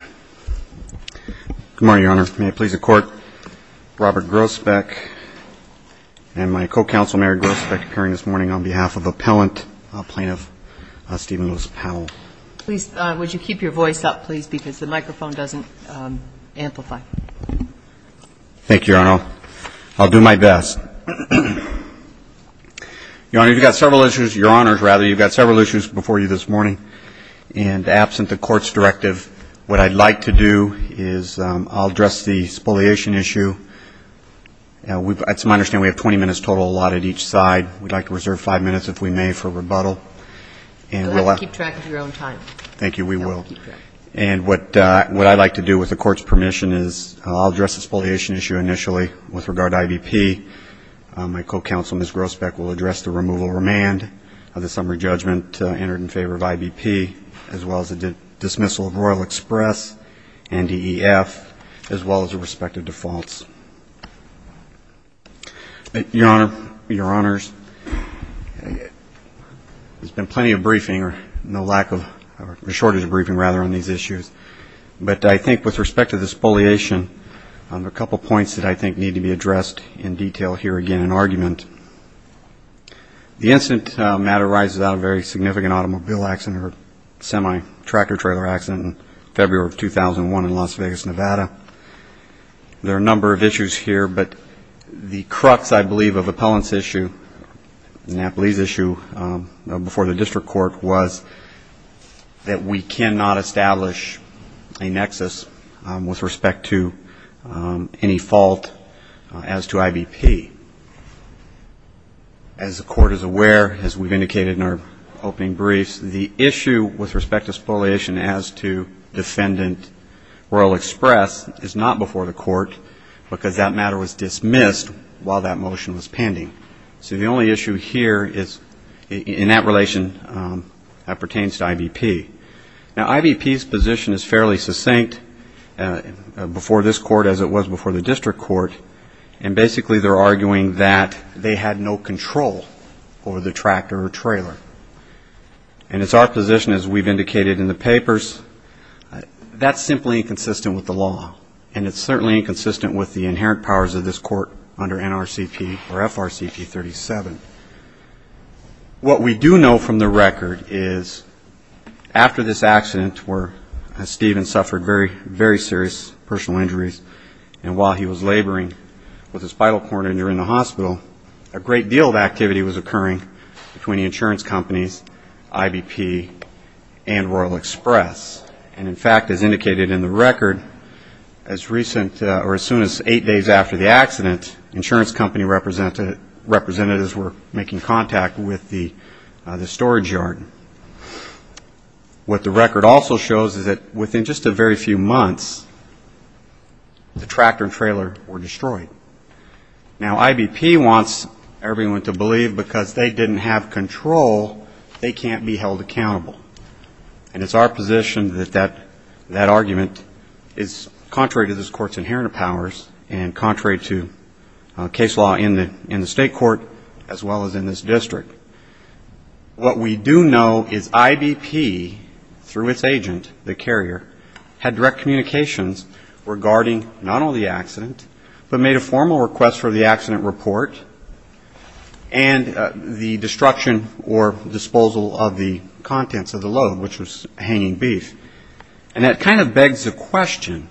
Good morning, Your Honor. May it please the Court, Robert Grosbeck and my co-counsel, Mary Grosbeck, occurring this morning on behalf of Appellant Plaintiff Stephen Lewis Powell. Please, would you keep your voice up, please, because the microphone doesn't amplify. Thank you, Your Honor. I'll do my best. Your Honor, you've got several issues, Your Honors, rather, you've got several issues before you this morning. And absent the Court's directive, what I'd like to do is I'll address the spoliation issue. It's my understanding we have 20 minutes total allotted each side. We'd like to reserve five minutes, if we may, for rebuttal. Go ahead and keep track of your own time. Thank you, we will. And what I'd like to do with the Court's permission is I'll address the spoliation issue initially with regard to IBP. My co-counsel, Ms. Grosbeck, will address the removal or remand of the summary judgment entered in favor of IBP, as well as the dismissal of Royal Express and DEF, as well as the respective defaults. Your Honor, Your Honors, there's been plenty of briefing, or no lack of, or a shortage of briefing, rather, on these issues. But I think with respect to the spoliation, a couple points that I think need to be addressed in detail here again in argument. The incident matter arises out of a very significant automobile accident, or semi-tractor trailer accident in February of 2001 in Las Vegas, Nevada. There are a number of issues here, but the crux, I believe, of Appellant's issue, and I believe the issue before the District Court was that we cannot establish a nexus with respect to any fault as to IBP. As the Court is aware, as we've indicated in our opening briefs, the issue with respect to spoliation as to defendant Royal Express is not before the Court, because that matter was dismissed while that motion was pending. So the only issue here is, in that relation, that pertains to IBP. Now, IBP's position is fairly succinct before this Court, as it was before the District Court, and basically they're arguing that they had no control over the tractor or trailer. And it's our position, as we've indicated in the papers, that's simply inconsistent with the law, and it's certainly inconsistent with the inherent powers of this Court under NRCP or FRCP 37. What we do know from the record is, after this accident where Stephen suffered very, very serious personal injuries, and while he was laboring with a spinal cord injury in the hospital, a great deal of activity was occurring between the insurance companies, IBP and Royal Express. And, in fact, as indicated in the record, as recent or as soon as eight days after the accident, insurance company representatives were making contact with the storage yard. What the record also shows is that within just a very few months, the tractor and trailer were destroyed. Now, IBP wants everyone to believe, because they didn't have control, they can't be held accountable. And it's our position that that argument is contrary to this Court's inherent powers, and contrary to case law in the State Court as well as in this District. What we do know is IBP, through its agent, the carrier, had direct communications regarding not only the accident, but made a formal request for the accident report and the destruction or disposal of the contents of the report. And that kind of begs the question,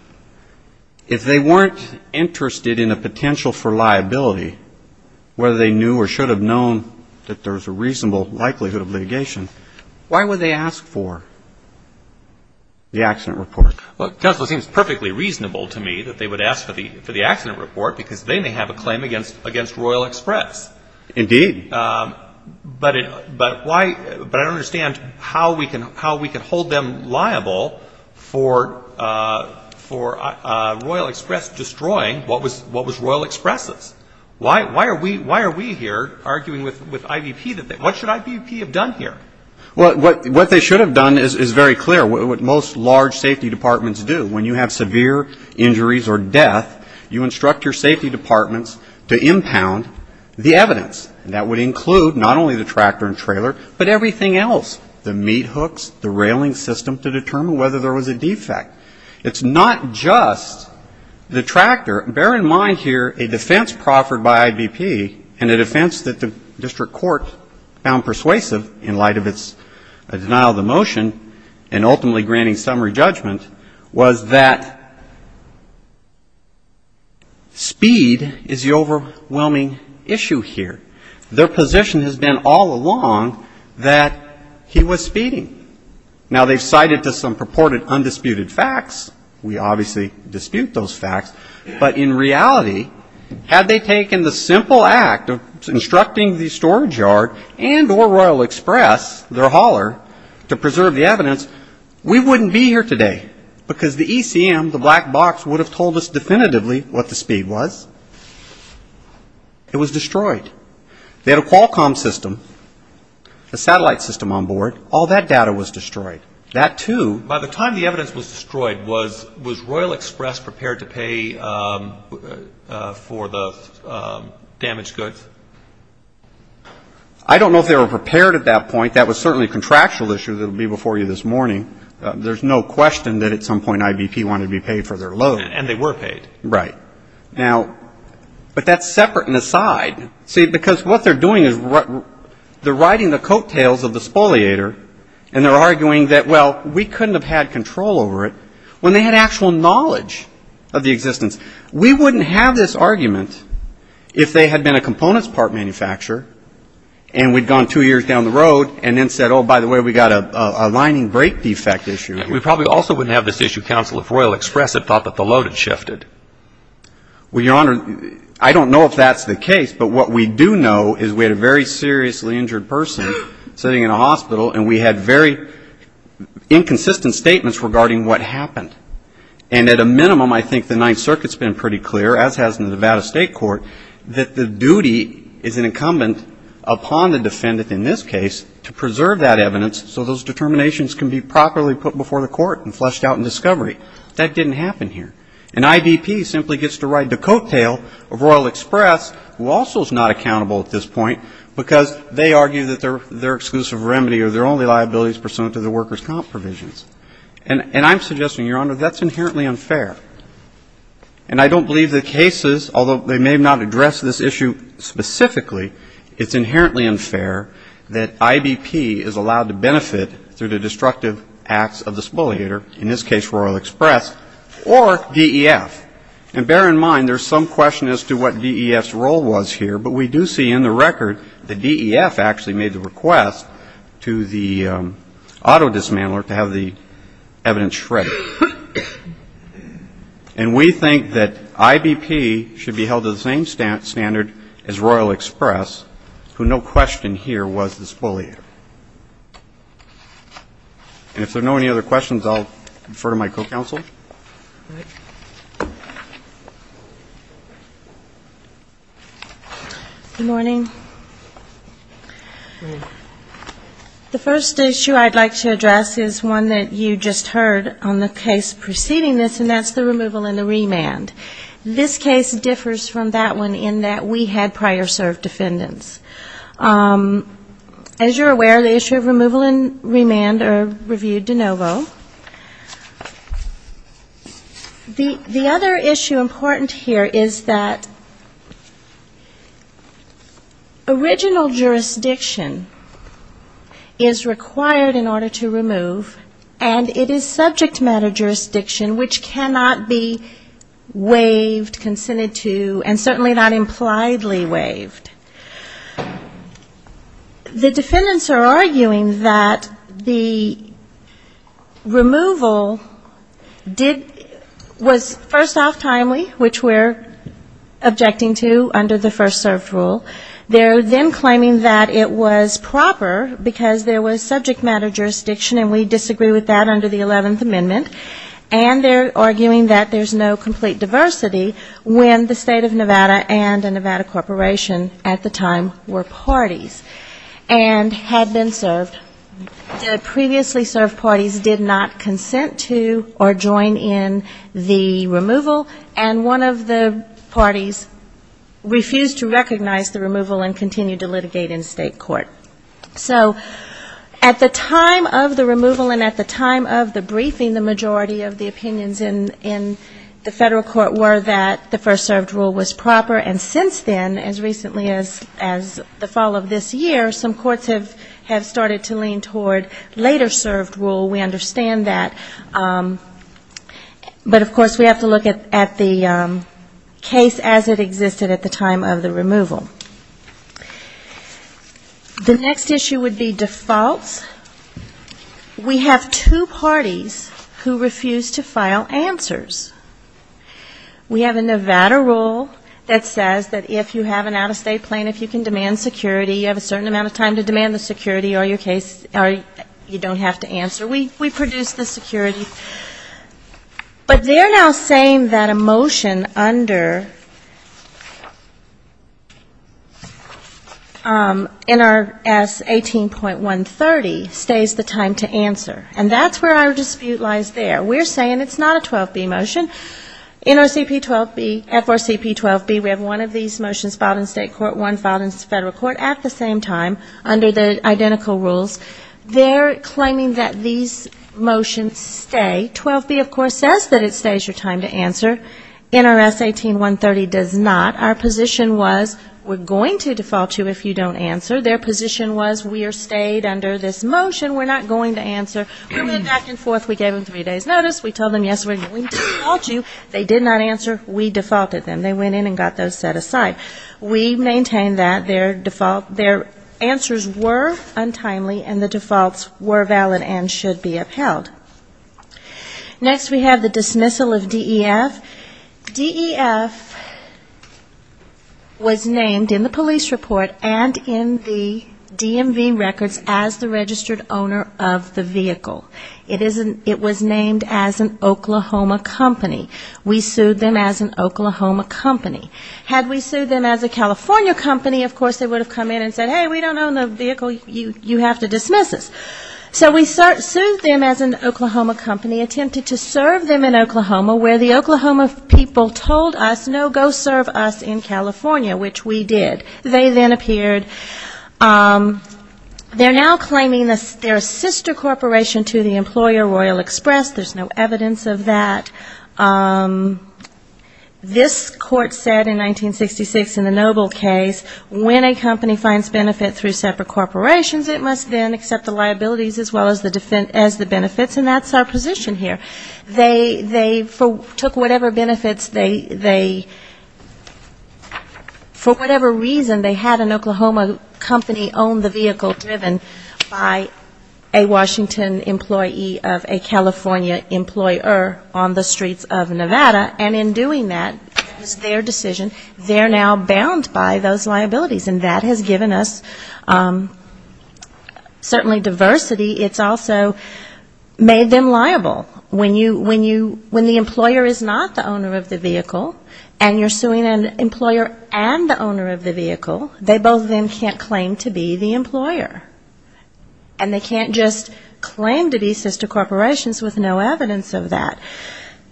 if they weren't interested in a potential for liability, whether they knew or should have known that there was a reasonable likelihood of litigation, why would they ask for the accident report? Well, counsel, it seems perfectly reasonable to me that they would ask for the accident report, because they may have a claim against Royal Express. But I don't understand how we can hold them liable for Royal Express destroying what was Royal Express's. Why are we here arguing with IBP? What should IBP have done here? Well, what they should have done is very clear, what most large safety departments do. When you have severe injuries or death, you instruct your safety departments to impound the evidence. And that would include not only the tractor and trailer, but everything else, the meat hooks, the railing system, to determine whether there was a defect. It's not just the tractor. Bear in mind here a defense proffered by IBP and a defense that the District Court found persuasive in light of its denial of the motion and ultimately granting summary judgment was that speed is the overwhelming issue here. Their position has been all along that he was speeding. Now, they've cited to some purported undisputed facts. We obviously dispute those facts. But in reality, had they taken the simple act of instructing the storage yard and or Royal Express, their hauler, to preserve the evidence, we wouldn't be here today. Because the ECM, the black box, would have told us definitively what the speed was. It was destroyed. They had a Qualcomm system, a satellite system on board. All that data was destroyed. That, too. By the time the evidence was destroyed, was Royal Express prepared to pay for the damaged goods? I don't know if they were prepared at that point. That was certainly a contractual issue that will be before you this morning. There's no question that at some point IBP wanted to be paid for their load. And they were paid. Right. Now, but that's separate and aside. See, because what they're doing is they're riding the coattails of the spoliator and they're arguing that, well, we couldn't have had control over it when they had actual knowledge of the existence. We wouldn't have this argument if they had been a components part manufacturer and we'd gone two years down the road and then said, oh, by the way, we've got a lining brake defect issue. We probably also wouldn't have this issue, counsel, if Royal Express had thought that the load had shifted. Well, Your Honor, I don't know if that's the case, but what we do know is we had a very seriously injured person sitting in a hospital and we had very inconsistent statements regarding what happened. And at a minimum, I think the Ninth Circuit's been pretty clear, as has the Nevada State Court, that the duty is incumbent upon the defendant in this case to preserve that evidence so those determinations can be properly put before the court and fleshed out in discovery. That didn't happen here. And IBP simply gets to ride the coattail of Royal Express, who also is not accountable at this point, because they argue that their exclusive remedy or their only liability is pursuant to the workers' comp provisions. And I'm suggesting, Your Honor, that's inherently unfair. And I don't believe the cases, although they may not address this issue specifically, it's inherently unfair that IBP is allowed to benefit through the destructive acts of the spoliator, in this case Royal Express, or DEF. And bear in mind, there's some question as to what DEF's role was here, but we do see in the record the DEF actually made the request to the auto dismantler to have the evidence shredded. And we think that IBP should be held to the same standard as Royal Express, who no question here was the spoliator. And if there are no other questions, I'll refer to my co-counsel. Good morning. The first issue I'd like to address is one that you just heard on the case preceding this, and that's the removal and the remand. This case differs from that one in that we had prior served defendants. As you're aware, the issue of removal and remand are reviewed de novo. The other issue important here is that original jurisdiction is required in order to remove, and it is subject matter jurisdiction which cannot be waived, consented to, and certainly not impliedly waived. The defendants are arguing that the removal did was first off timely, which we're objecting to under the first served rule. They're then claiming that it was proper because there was subject matter jurisdiction, and we disagree with that under the 11th Amendment. And they're arguing that there's no complete diversity when the State of Nevada and a Nevada corporation at the time were involved. They were parties and had been served. Previously served parties did not consent to or join in the removal, and one of the parties refused to recognize the removal and continued to litigate in state court. So at the time of the removal and at the time of the briefing, the majority of the opinions in the federal court were that the first served rule was proper, and since then, as recently as the fall of this year, some courts have started to lean toward later served rule. We understand that, but of course we have to look at the case as it existed at the time of the removal. The next issue would be defaults. We have two parties who refuse to file answers. We have a Nevada rule that says that if you have an out-of-state plan, if you can demand security, you have a certain amount of time to demand the security, or you don't have to answer. We produce the security. But they're now saying that a motion under NRS 18.130 stays the time to answer. And that's where our dispute lies there. We're saying it's not a 12B motion. NRCP 12B, FRCP 12B, we have one of these motions filed in state court, one filed in federal court at the same time under the identical rules. They're claiming that these motions stay. 12B, of course, says that it stays your time to answer. We went back and forth. We gave them three days' notice. We told them, yes, we're going to default you. They did not answer. We defaulted them. They went in and got those set aside. We maintained that their answers were untimely and the defaults were valid and should be upheld. Next we have the dismissal of DEF. DEF was named in the police report and in the DMV records as the registered owner of the vehicle. It was named as an Oklahoma company. We sued them as an Oklahoma company. Had we sued them as a California company, of course, they would have come in and said, hey, we don't own the vehicle, you have to dismiss us. So we sued them as an Oklahoma company, attempted to serve them in Oklahoma, where the Oklahoma people told us, no, go serve us in California, which we did. They then appeared. They're now claiming they're a sister corporation to the employer Royal Express. There's no evidence of that. This court said in 1966 in the Noble case, when a company finds benefit through separate corporations, it must then accept the liabilities as well as the benefits, and that's our position here. They took whatever benefits they, for whatever reason, they had an Oklahoma company own the vehicle driven by a Washington employee of a California employer on the streets of Nevada, and in doing that, it was their decision, they're now bound by those liabilities. And that has given us certainly diversity. It's also made them liable. When the employer is not the owner of the vehicle, and you're suing an employer and the owner of the vehicle, they both then can't claim to be the employer. And they can't just claim to be sister corporations with no evidence of that.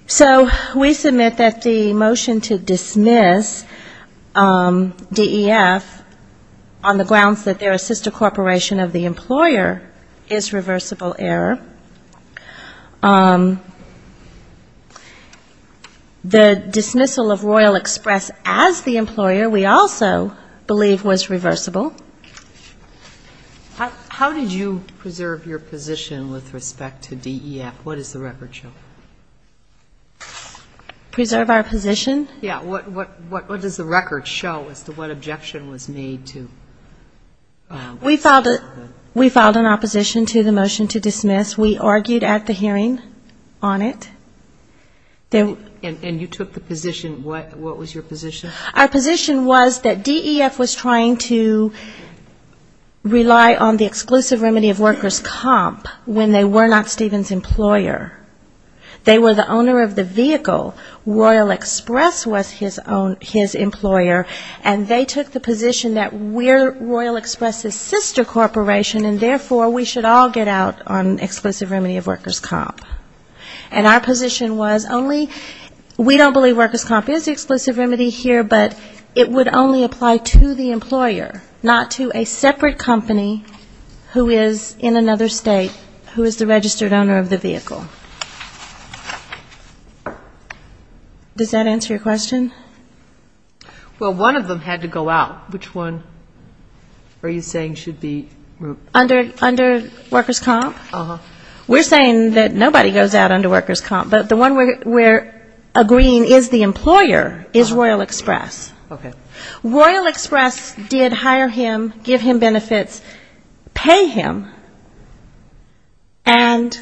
So we submit that the motion to dismiss DEF on the grounds that they're a sister corporation of the employer is wrong. It's reversible error. The dismissal of Royal Express as the employer we also believe was reversible. How did you preserve your position with respect to DEF? What does the record show? Preserve our position? Yeah, what does the record show as to what objection was made to? We filed an opposition to the motion to dismiss. We argued at the hearing on it. And you took the position, what was your position? Our position was that DEF was trying to rely on the exclusive remedy of workers' comp when they were not Stephen's employer. They were the owner of the vehicle. Royal Express was his employer. And they took the position that we're Royal Express's sister corporation, and therefore we should all get out on exclusive remedy of workers' comp. And our position was only we don't believe workers' comp is the exclusive remedy here, but it would only apply to the employer, not to a separate company who is in another state who is the registered owner of the vehicle. Does that answer your question? Well, one of them had to go out. Which one are you saying should be removed? Under workers' comp? We're saying that nobody goes out under workers' comp, but the one we're agreeing is the employer is Royal Express. And it's pay him and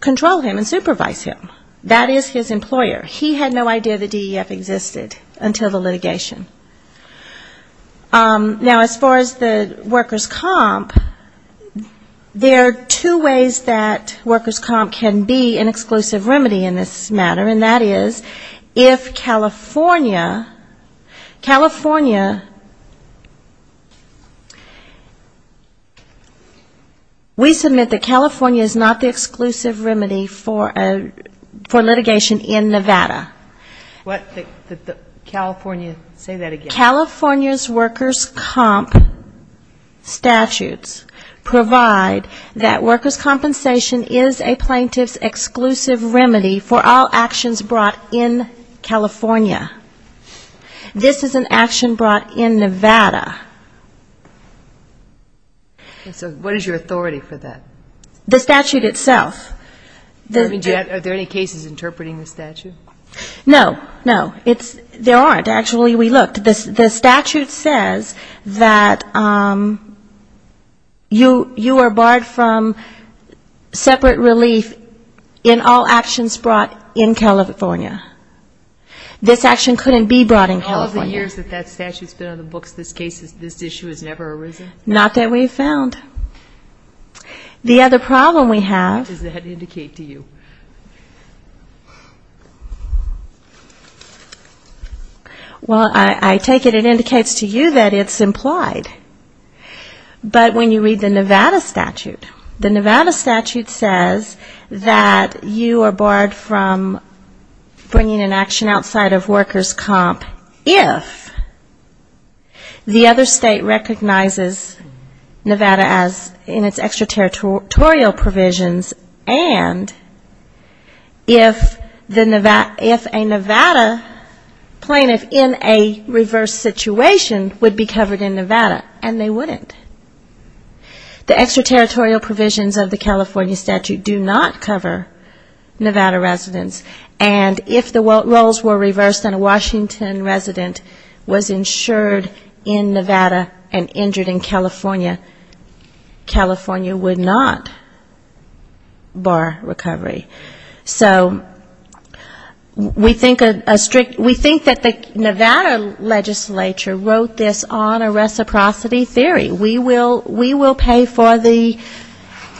control him and supervise him. That is his employer. He had no idea the DEF existed until the litigation. Now, as far as the workers' comp, there are two ways that workers' comp can be an exclusive remedy in this matter, and that is, if we submit that California is not the exclusive remedy for litigation in Nevada, California's workers' comp statutes provide that workers' compensation is a plaintiff's exclusive remedy for all actions brought in California. This is an action brought in Nevada. So what is your authority for that? The statute itself. Are there any cases interpreting the statute? No, no. There aren't. Actually, we looked. The statute says that you are barred from separate relief in all actions brought in California. This action couldn't be brought in California. Not that we've found. The other problem we have... What does that indicate to you? Well, I take it it indicates to you that it's implied. But when you read the Nevada statute, the Nevada statute says that you are barred from bringing an action outside of workers' comp, if the other state recognizes that you are barred from bringing an action outside of workers' comp, Nevada, as in its extraterritorial provisions, and if a Nevada plaintiff in a reverse situation would be covered in Nevada, and they wouldn't. The extraterritorial provisions of the California statute do not cover Nevada residents. And if the roles were reversed and a Washington resident was insured in Nevada and injured in California, that would be California. California would not bar recovery. So we think a strict we think that the Nevada legislature wrote this on a reciprocity theory. We will pay for the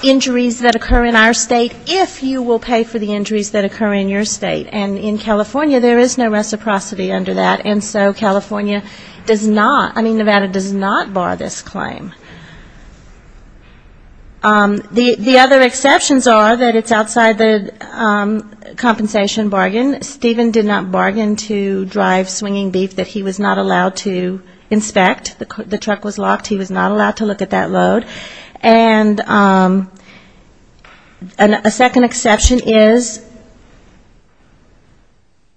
injuries that occur in our state if you will pay for the injuries that occur in your state. And in California, there is no reciprocity under that. And so California does not, I mean, Nevada does not bar this claim. The other exceptions are that it's outside the compensation bargain. Stephen did not bargain to drive swinging beef that he was not allowed to inspect. The truck was locked. He was not allowed to look at that load. And a second exception is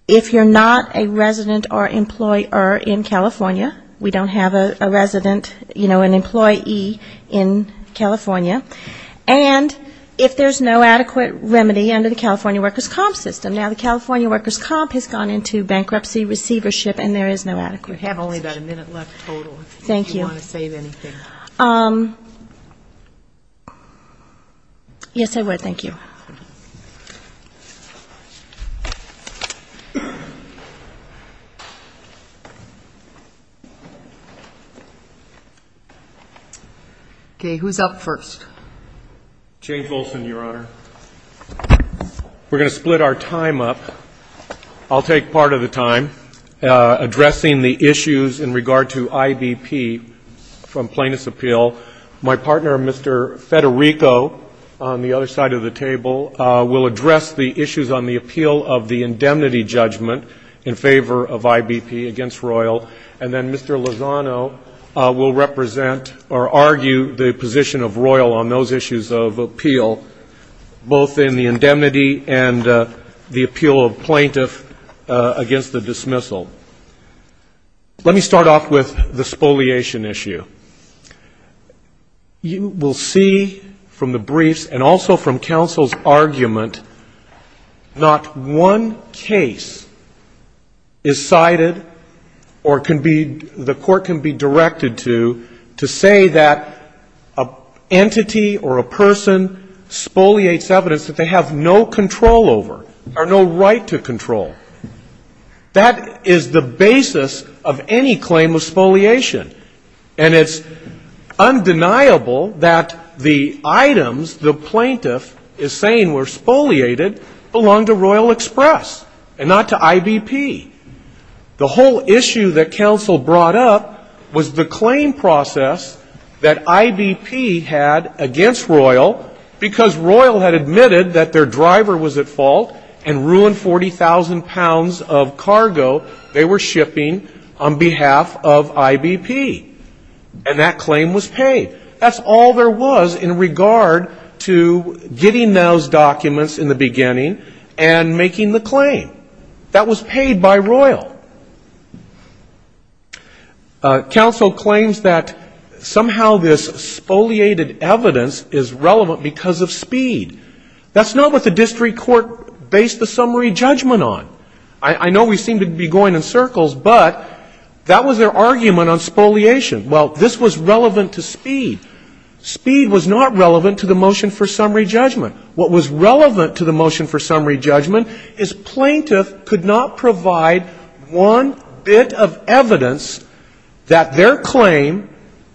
if you're not a resident or employer in California, we don't have a resident, you know, an employee in California, and if there's no adequate remedy under the California workers' comp system. Now, the California workers' comp has gone into bankruptcy receivership, and there is no adequate remedy. Yes, I would. Thank you. Okay. Who's up first? James Wilson, Your Honor. We're going to split our time up. I'll take part of the time addressing the issues in regard to IBP from Plaintiff's Appeal. My partner, Mr. Federico, on the other side of the table, will address the issues on the appeal of the indemnity judgment in favor of IBP against Royal, and then Mr. Lozano will represent or argue the position of Royal on those issues of appeal, both in the indemnity and the appeal of Plaintiff against the dismissal. Let me start off with the spoliation issue. You will see from the briefs and also from counsel's argument not one case is decided or can be, the court can be directed to, to say that an entity or a person spoliates evidence that they have no control over or no right to control. That is the basis of any claim of spoliation. And it's undeniable that the items the plaintiff is saying were spoliated belong to Royal Express and not to IBP. The whole issue that counsel brought up was the claim process that IBP had against Royal, because Royal had admitted that their driver was at fault and ruined 40,000 pounds of cargo they were shipping on behalf of IBP. And that claim was paid. That's all there was in regard to getting those documents in the beginning and making the claim. That was paid by Royal. Counsel claims that somehow this spoliated evidence is relevant because of speed. That's not what the district court based the summary judgment on. I know we seem to be going in circles, but that was their argument on spoliation. Well, this was relevant to speed. Speed was not relevant to the motion for summary judgment. What was relevant to the motion for summary judgment is plaintiff could not provide one bit of evidence that their claim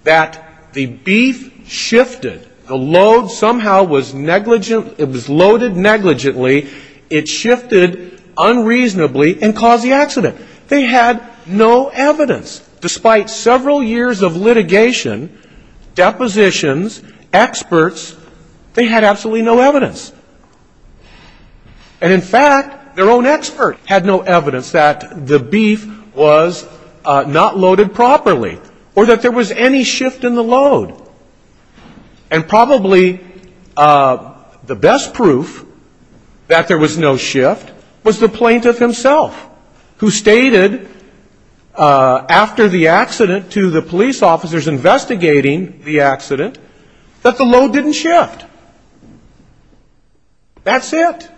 that the beef shifted, the load somehow was negligent, it was loaded negligently, it shifted unreasonably and caused the accident. They had no evidence. Despite several years of litigation, depositions, experts, they had absolutely no evidence. And in fact, their own expert had no evidence that the beef was not loaded properly or that there was any shift in the load. And probably the best proof that there was no shift was the plaintiff himself, who stated after the accident to the police officers investigating the accident that the load didn't shift. That's it.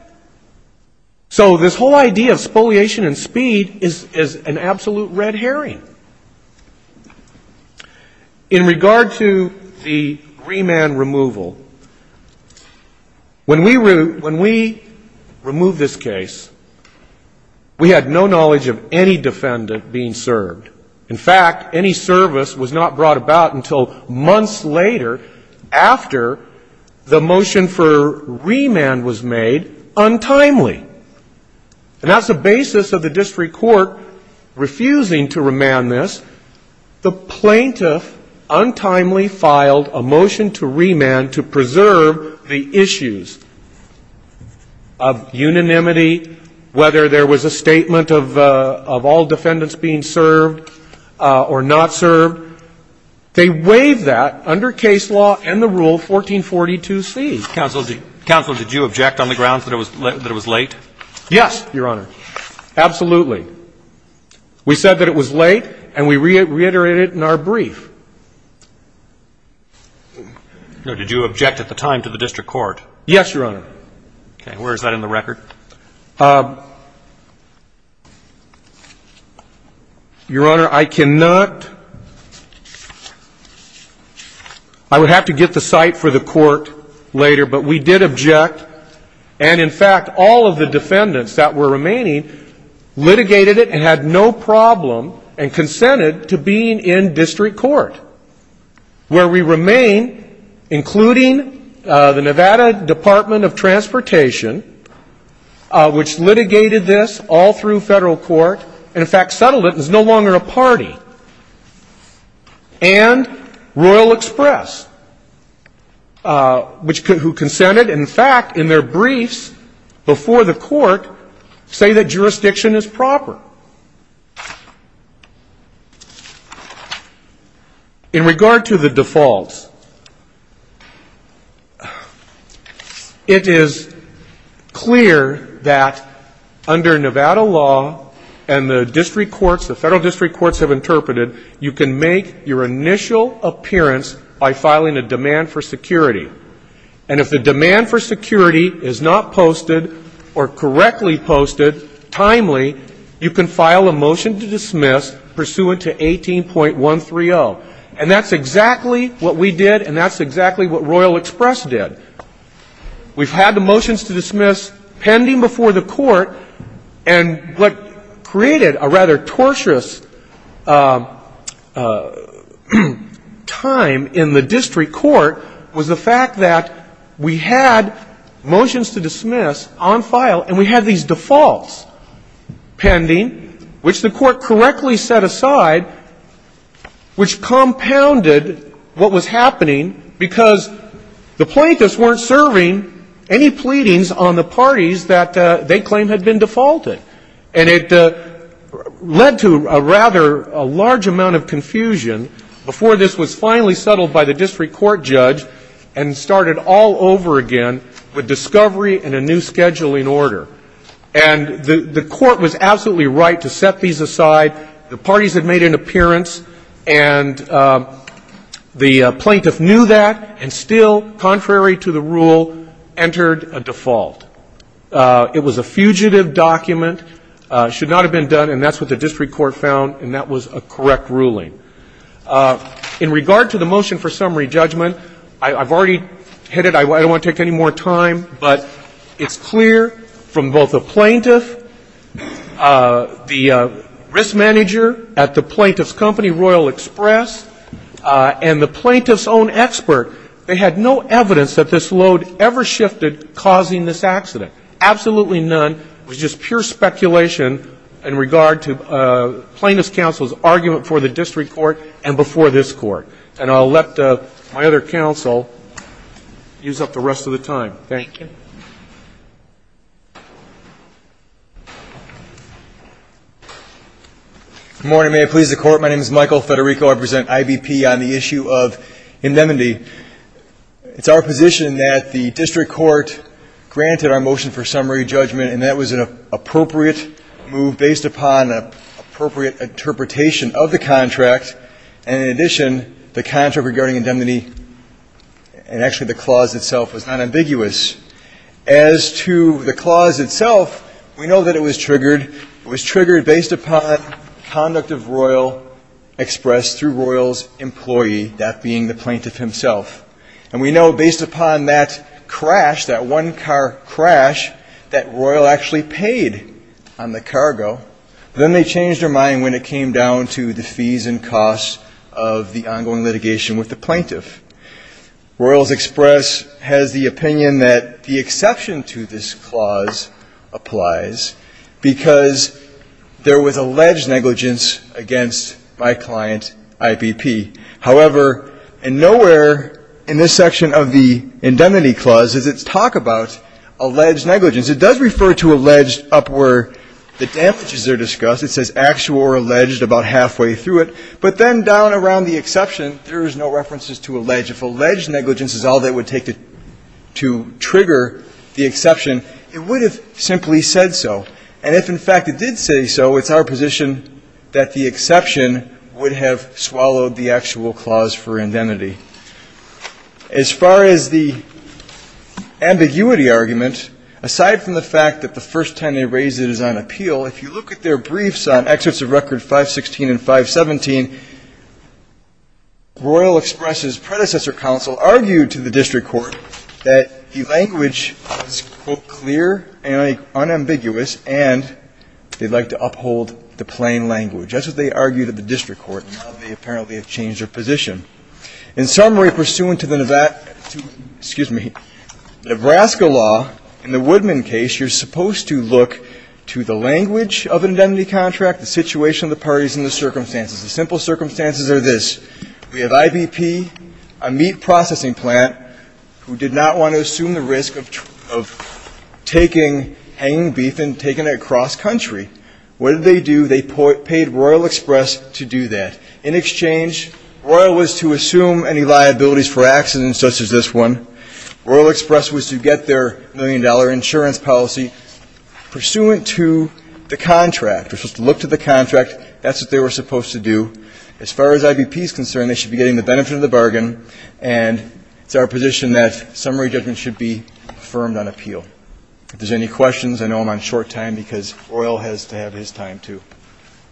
So this whole idea of spoliation and speed is an absolute red herring. In regard to the remand removal, when we removed this case, we had no knowledge of any defendant being served. In fact, any service was not brought about until months later after the motion for remand was made untimely. And that's the basis of the district court refusing to remand this. The plaintiff untimely filed a motion to remand to preserve the issues of unanimity, whether there was a statement of all defendants being served or not served. They waived that under case law and the rule 1442C. Counsel, did you object on the grounds that it was late? Yes, Your Honor. Absolutely. We said that it was late, and we reiterated it in our brief. No, did you object at the time to the district court? Yes, Your Honor. Okay. Where is that in the record? Your Honor, I cannot, I would have to get the cite for the court later, but we did object. And in fact, all of the defendants that were remaining litigated it and had no problem and consented to being in district court. Where we remain, including the Nevada Department of Transportation, which litigated this all through federal court, and in fact settled it and is no longer a party. And Royal Express, who consented. In fact, in their briefs before the court, say that jurisdiction is proper. In regard to the defaults, it is clear that under Nevada law and the district courts, the federal district courts have interpreted, you can make your initial appearance by filing a demand for security. And if the demand for security is not posted or correctly posted, timely, you can file a motion to dismiss pursuant to 18.130. And that's exactly what we did and that's exactly what Royal Express did. We've had the motions to dismiss pending before the court. And what created a rather torturous time in the district court was the fact that we had motions to dismiss on file and we had these defaults. pending, which the court correctly set aside, which compounded what was happening because the plaintiffs weren't serving any pleadings on the parties that they claimed had been defaulted. And it led to a rather large amount of confusion before this was finally settled by the district court judge and started all over again with discovery and a new scheduling order. And the court was absolutely right to set these aside. The parties had made an appearance and the plaintiff knew that and still, contrary to the rule, entered a default. It was a fugitive document, should not have been done, and that's what the district court found and that was a correct ruling. In regard to the motion for summary judgment, I've already hit it. I don't want to take any more time, but it's clear from both the plaintiff, the risk manager at the plaintiff's company, Royal Express, and the plaintiff's own expert, they had no evidence that this load ever shifted causing this accident. Absolutely none. It was just pure speculation in regard to plaintiff's counsel's argument for the district court and before this court. And I'll let my other counsel use up the rest of the time. Thank you. Good morning. Your Honor, may I please the Court? My name is Michael Federico. I represent IBP on the issue of indemnity. It's our position that the district court granted our motion for summary judgment and that was an appropriate move based upon an appropriate interpretation of the contract. And in addition, the contract regarding indemnity and actually the clause itself was not ambiguous. As to the clause itself, we know that it was triggered. It was triggered based upon conduct of Royal Express through Royal's employee, that being the plaintiff himself. And we know based upon that crash, that one car crash, that Royal actually paid on the cargo. Then they changed their mind when it came down to the fees and costs of the ongoing litigation with the plaintiff. Royal's Express has the opinion that the exception to this clause applies because there was alleged negligence against my client, IBP. However, in nowhere in this section of the indemnity clause does it talk about alleged negligence. In other words, it does refer to alleged up where the damages are discussed. It says actual or alleged about halfway through it. But then down around the exception, there is no references to alleged. If alleged negligence is all they would take to trigger the exception, it would have simply said so. And if, in fact, it did say so, it's our position that the exception would have swallowed the actual clause for indemnity. As far as the ambiguity argument, aside from the fact that the first time they raised it is on appeal, if you look at their briefs on excerpts of record 516 and 517, Royal Express's predecessor counsel argued to the district court that the language is, quote, clear and unambiguous, and they'd like to uphold the plain language. And just as they argued at the district court, now they apparently have changed their position. In summary, pursuant to the Nebraska law, in the Woodman case, you're supposed to look to the language of an indemnity contract, the situation of the parties, and the circumstances. The simple circumstances are this. We have IBP, a meat processing plant, who did not want to assume the risk of taking hanging beef and taking it across country. Royal Express to do that. In exchange, Royal was to assume any liabilities for accidents such as this one. Royal Express was to get their million-dollar insurance policy. Pursuant to the contract, we're supposed to look to the contract. That's what they were supposed to do. As far as IBP is concerned, they should be getting the benefit of the bargain, and it's our position that summary judgment should be affirmed on appeal. If there's any questions, I know I'm on short time, because Royal has to have his time, too.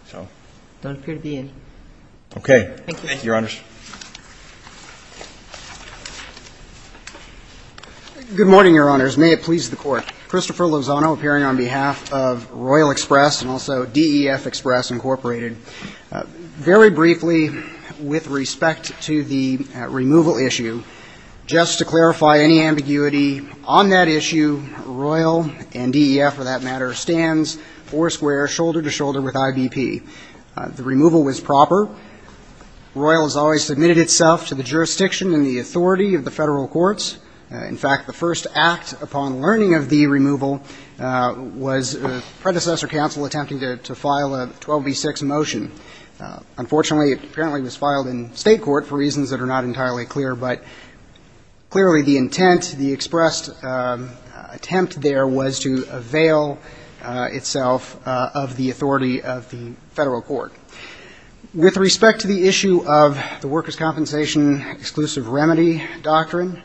So. Thank you, Your Honors. Good morning, Your Honors. May it please the Court. Christopher Lozano appearing on behalf of Royal Express and also DEF Express, Incorporated. Very briefly, with respect to the removal issue, just to clarify any ambiguity, on that issue, Royal and DEF, for that matter, stands four-square, shoulder-to-shoulder with IBP. The removal was proper. Royal has always submitted itself to the jurisdiction and the authority of the Federal courts. In fact, the first act upon learning of the removal was a predecessor counsel attempting to file a 12b-6 motion. Unfortunately, it apparently was filed in State court for reasons that are not entirely clear. But clearly, the intent, the expressed attempt there was to avail itself of the authority of the Federal court. With respect to the issue of the workers' compensation exclusive remedy doctrine,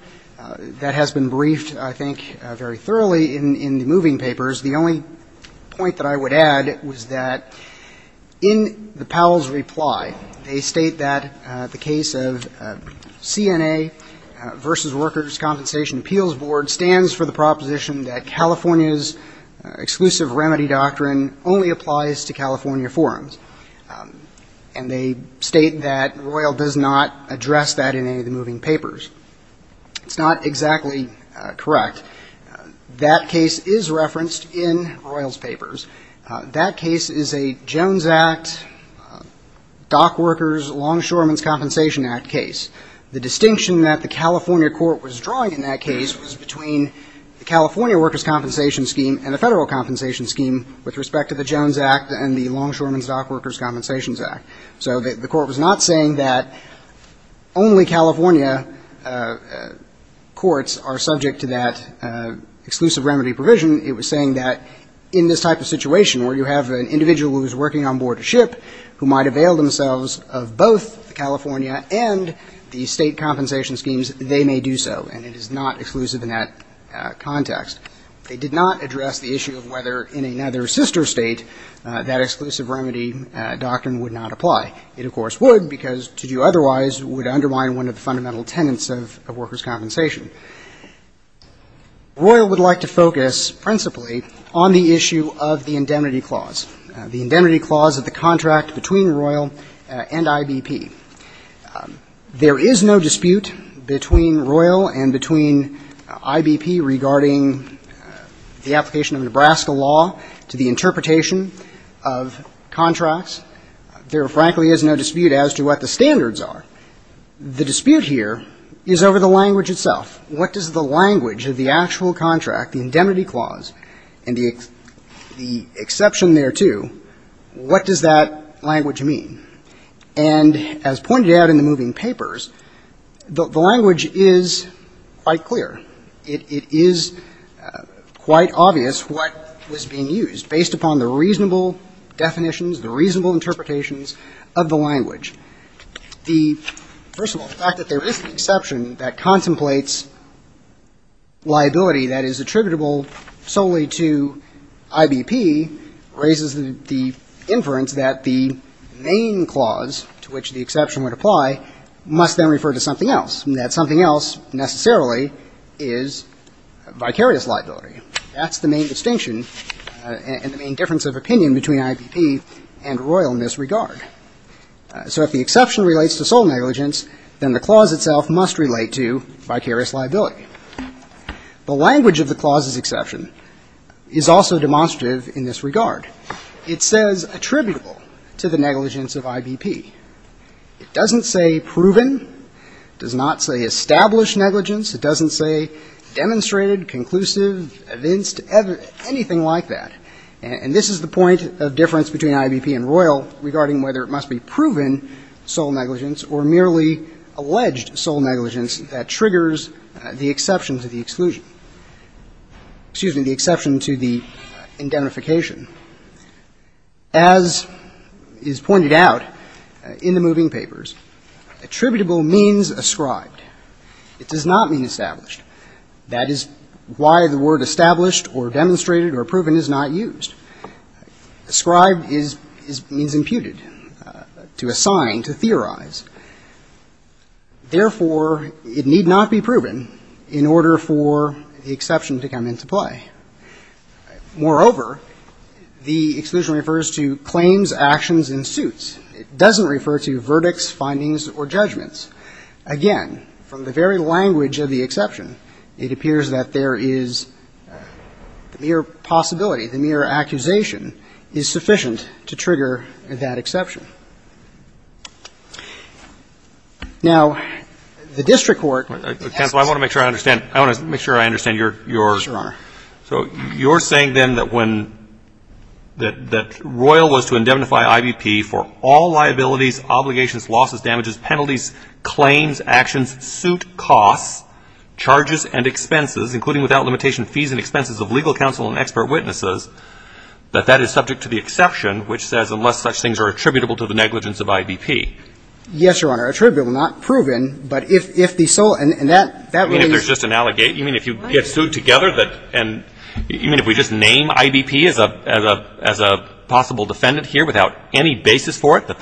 that has been briefed, I think, very thoroughly in the moving papers. The only point that I would add was that in the Powell's reply, they state that the case of CNA v. Workers' Compensation Appeals Board stands for the proposition that California's exclusive remedy doctrine only applies to California forums. And they state that Royal does not address that in any of the moving papers. It's not exactly correct. That case is referenced in Royal's papers. That case is a Jones Act, Dock Workers, Longshoremen's Compensation Act case. The distinction that the California court was drawing in that case was between the California workers' compensation scheme and the Federal compensation scheme with respect to the Jones Act and the Longshoremen's Dock Workers' Compensation Act. So the court was not saying that only California courts are subject to that exclusive remedy provision. It was saying that in this type of situation where you have an individual who is working on board a ship who might avail themselves of both the California and the State compensation schemes, they may do so. And it is not exclusive in that context. They did not address the issue of whether in another sister State that exclusive remedy doctrine would not apply. It, of course, would because to do otherwise would undermine one of the fundamental tenets of workers' compensation. Royal would like to focus principally on the issue of the indemnity clause, the indemnity clause of the contract between Royal and IBP. There is no dispute between Royal and between IBP regarding the application of Nebraska law to the interpretation of contracts. There, frankly, is no dispute as to what the standards are. The dispute here is over the language itself. What does the language of the actual contract, the indemnity clause, and the exception thereto, what does that language mean? And as pointed out in the moving papers, the language is quite clear. It is quite obvious what was being used based upon the reasonable definitions, the reasonable interpretations of the language. First of all, the fact that there is an exception that contemplates liability that is attributable solely to IBP raises the inference that the main clause to which the exception would apply must then refer to something else, and that something else necessarily is vicarious liability. That's the main distinction and the main difference of opinion between IBP and Royal in this regard. So if the exception relates to sole negligence, then the clause itself must relate to vicarious liability. The language of the clause's exception is also demonstrative in this regard. It says attributable to the negligence of IBP. It doesn't say proven. It does not say established negligence. It doesn't say demonstrated, conclusive, evinced, anything like that. And this is the point of difference between IBP and Royal regarding whether it must be proven sole negligence or merely alleged sole negligence that triggers the exception to the exclusion, excuse me, the exception to the indemnification. As is pointed out in the moving papers, attributable means ascribed. It does not mean established. That is why the word established or demonstrated or proven is not used. Ascribed means imputed, to assign, to theorize. Therefore, it need not be proven in order for the exception to come into play. Moreover, the exclusion refers to claims, actions, and suits. It doesn't refer to verdicts, findings, or judgments. Again, from the very language of the exception, it appears that there is the mere possibility, the mere accusation, is sufficient to trigger that exception. Now, the district court has to make sure I understand. I want to make sure I understand your question. Yes, Your Honor. So you're saying then that when, that Royal was to indemnify IBP for all liabilities, obligations, losses, damages, penalties, claims, actions, suit, costs, charges, and expenses, including without limitation fees and expenses of legal counsel and expert witnesses, that that is subject to the exception, which says unless such things are attributable to the negligence of IBP. Yes, Your Honor. Attributable, not proven, but if the sole, and that, that would be. So you're saying there's just an, you mean if you get sued together that, and you mean if we just name IBP as a possible defendant here without any basis for it, that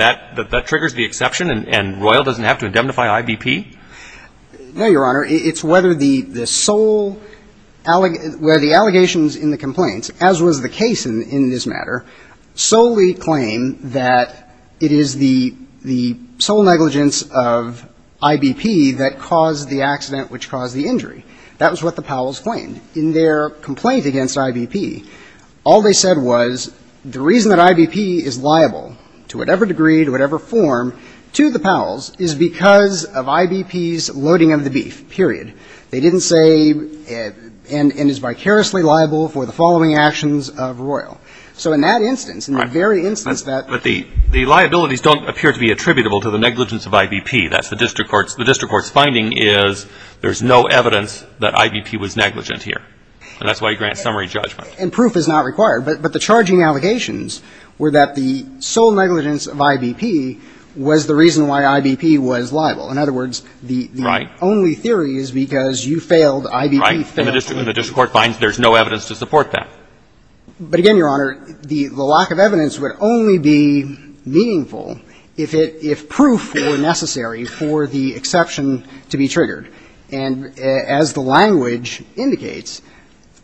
that triggers the exception and Royal doesn't have to indemnify IBP? No, Your Honor. It's whether the sole, where the allegations in the complaints, as was the case in this matter, solely claim that it is the sole negligence of IBP that caused the accident which caused the injury. That was what the Powells claimed. In their complaint against IBP, all they said was the reason that IBP is liable to whatever degree, to whatever form, to the Powells is because of IBP's loading of the beef, period. They didn't say, and is vicariously liable for the following actions of Royal. So in that instance, in the very instance that the. But the liabilities don't appear to be attributable to the negligence of IBP. That's the district court's. The district court's finding is there's no evidence that IBP was negligent here. And that's why he grants summary judgment. And proof is not required. But the charging allegations were that the sole negligence of IBP was the reason why IBP was liable. In other words. Right. The only theory is because you failed, IBP failed. Right. And the district court finds there's no evidence to support that. But again, Your Honor, the lack of evidence would only be meaningful if it, if proof were necessary for the exception to be triggered. And as the language indicates,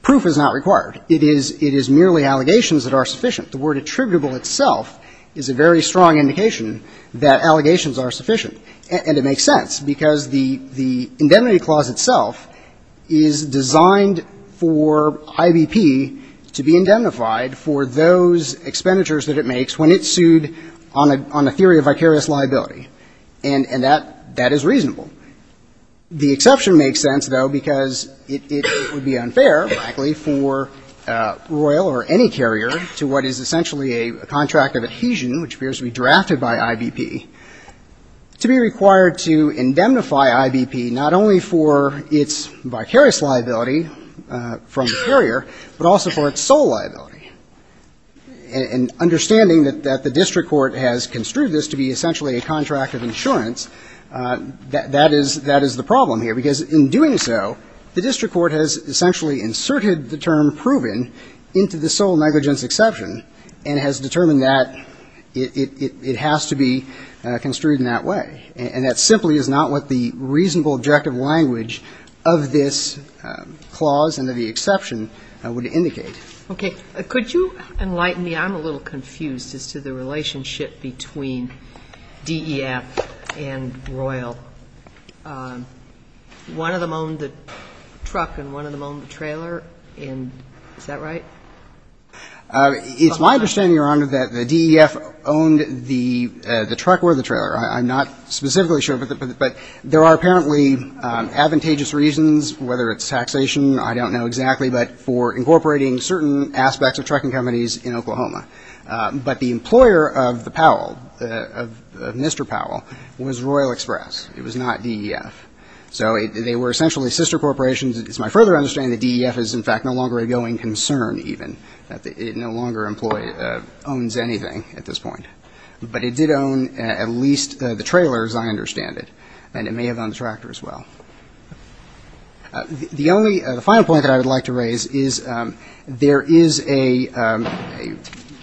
proof is not required. It is merely allegations that are sufficient. The word attributable itself is a very strong indication that allegations are sufficient. And it makes sense. Because the indemnity clause itself is designed for IBP to be indemnified for those expenditures that it makes when it's sued on a theory of vicarious liability. And that is reasonable. The exception makes sense, though, because it would be unfair, frankly, for Royal or any carrier to what is essentially a contract of adhesion, which appears to be drafted by IBP, to be required to indemnify IBP not only for its vicarious liability from the carrier, but also for its sole liability. And understanding that the district court has construed this to be essentially a contract of insurance, that is the problem here. Because in doing so, the district court has essentially inserted the term proven into the sole negligence exception and has determined that it has to be construed in that way. And that simply is not what the reasonable objective language of this clause and of the exception would indicate. Okay. Could you enlighten me? I'm a little confused as to the relationship between DEF and Royal. One of them owned the truck and one of them owned the trailer, and is that right? It's my understanding, Your Honor, that the DEF owned the truck or the trailer. I'm not specifically sure, but there are apparently advantageous reasons, whether it's taxation, I don't know exactly, but for incorporating certain aspects of trucking companies in Oklahoma. But the employer of the Powell, of Mr. Powell, was Royal Express. It was not DEF. So they were essentially sister corporations. It's my further understanding that DEF is, in fact, no longer a going concern even. It no longer owns anything at this point. But it did own at least the trailer, as I understand it. And it may have owned the tractor as well. The only – the final point that I would like to raise is there is a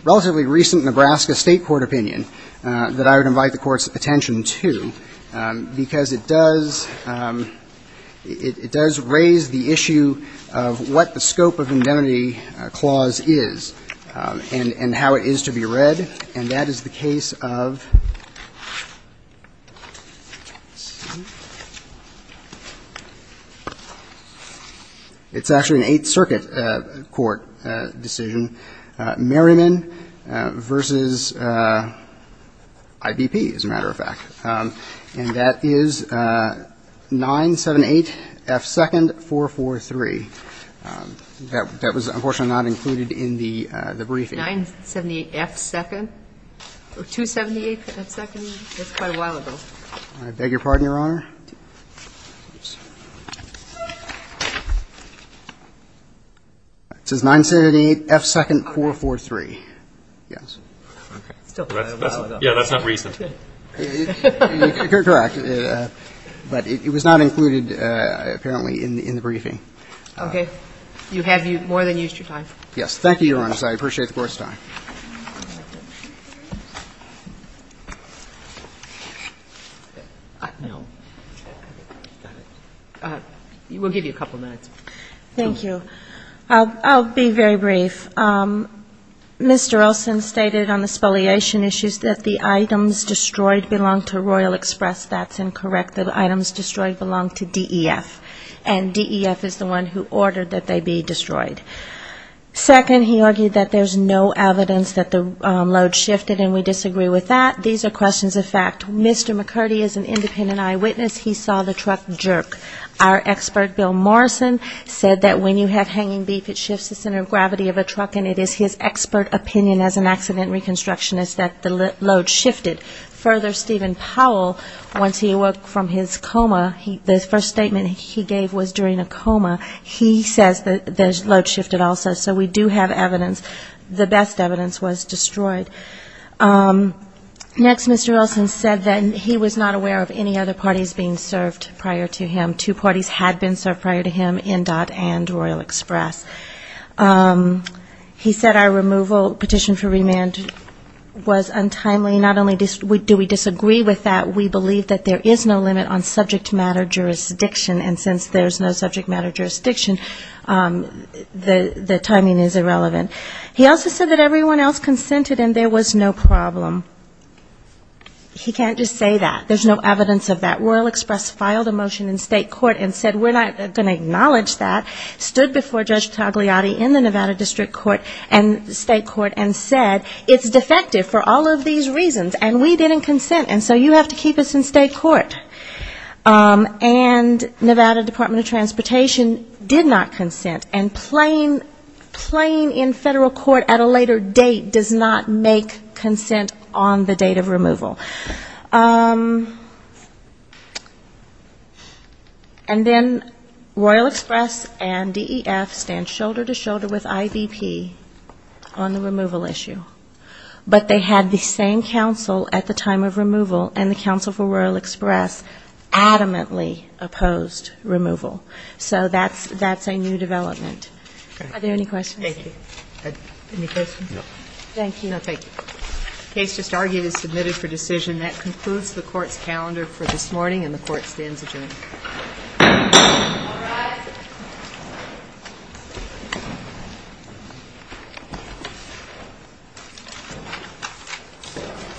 relatively recent Nebraska State court opinion that I would invite the Court's attention to, because it does – it does raise the issue of what the scope of indemnity clause is and how it is to be read. And that is the case of – let's see. It's actually an Eighth Circuit court decision. Merriman v. IBP, as a matter of fact. And that is 978F2nd443. That was, unfortunately, not included in the briefing. 978F2nd? Or 278F2nd? That's quite a while ago. I beg your pardon, Your Honor. It says 978F2nd443. Yes. It's still quite a while ago. Yeah, that's not recent. Correct. But it was not included, apparently, in the briefing. Okay. You have more than used your time. Yes. Thank you, Your Honor. I appreciate the Court's time. We'll give you a couple minutes. Thank you. I'll be very brief. Mr. Olson stated on the spoliation issues that the items destroyed belong to Royal Express. That's incorrect. The items destroyed belong to DEF. And DEF is the one who ordered that they be destroyed. Second, he argued that there's no evidence that the load shifted, and we disagree with that. These are questions of fact. Mr. McCurdy is an independent eyewitness. He saw the truck jerk. Our expert, Bill Morrison, said that when you have hanging beef, it shifts the center of gravity of a truck, and it is his expert opinion as an accident reconstructionist that the load shifted. Further, Stephen Powell, once he awoke from his coma, the first statement he made was that the load shifted also. So we do have evidence. The best evidence was destroyed. Next, Mr. Olson said that he was not aware of any other parties being served prior to him. Two parties had been served prior to him, NDOT and Royal Express. He said our removal petition for remand was untimely. Not only do we disagree with that, we believe that there is no limit on subject matter jurisdiction. And since there's no subject matter jurisdiction, the timing is irrelevant. He also said that everyone else consented and there was no problem. He can't just say that. There's no evidence of that. Royal Express filed a motion in state court and said we're not going to acknowledge that. Stood before Judge Tagliati in the Nevada District Court and state court and said it's defective for all of these reasons, and we didn't consent, and so you have to keep us in state court. And Nevada Department of Transportation did not consent. And playing in federal court at a later date does not make consent on the date of removal. And then Royal Express and DEF stand shoulder to shoulder with IVP on the removal issue. But they had the same counsel at the time of removal and the counsel for Royal Express adamantly opposed removal. So that's a new development. Are there any questions? Thank you. Any questions? No. Thank you. No, thank you. The case just argued is submitted for decision. That concludes the court's calendar for this morning, and the court stands adjourned. All rise.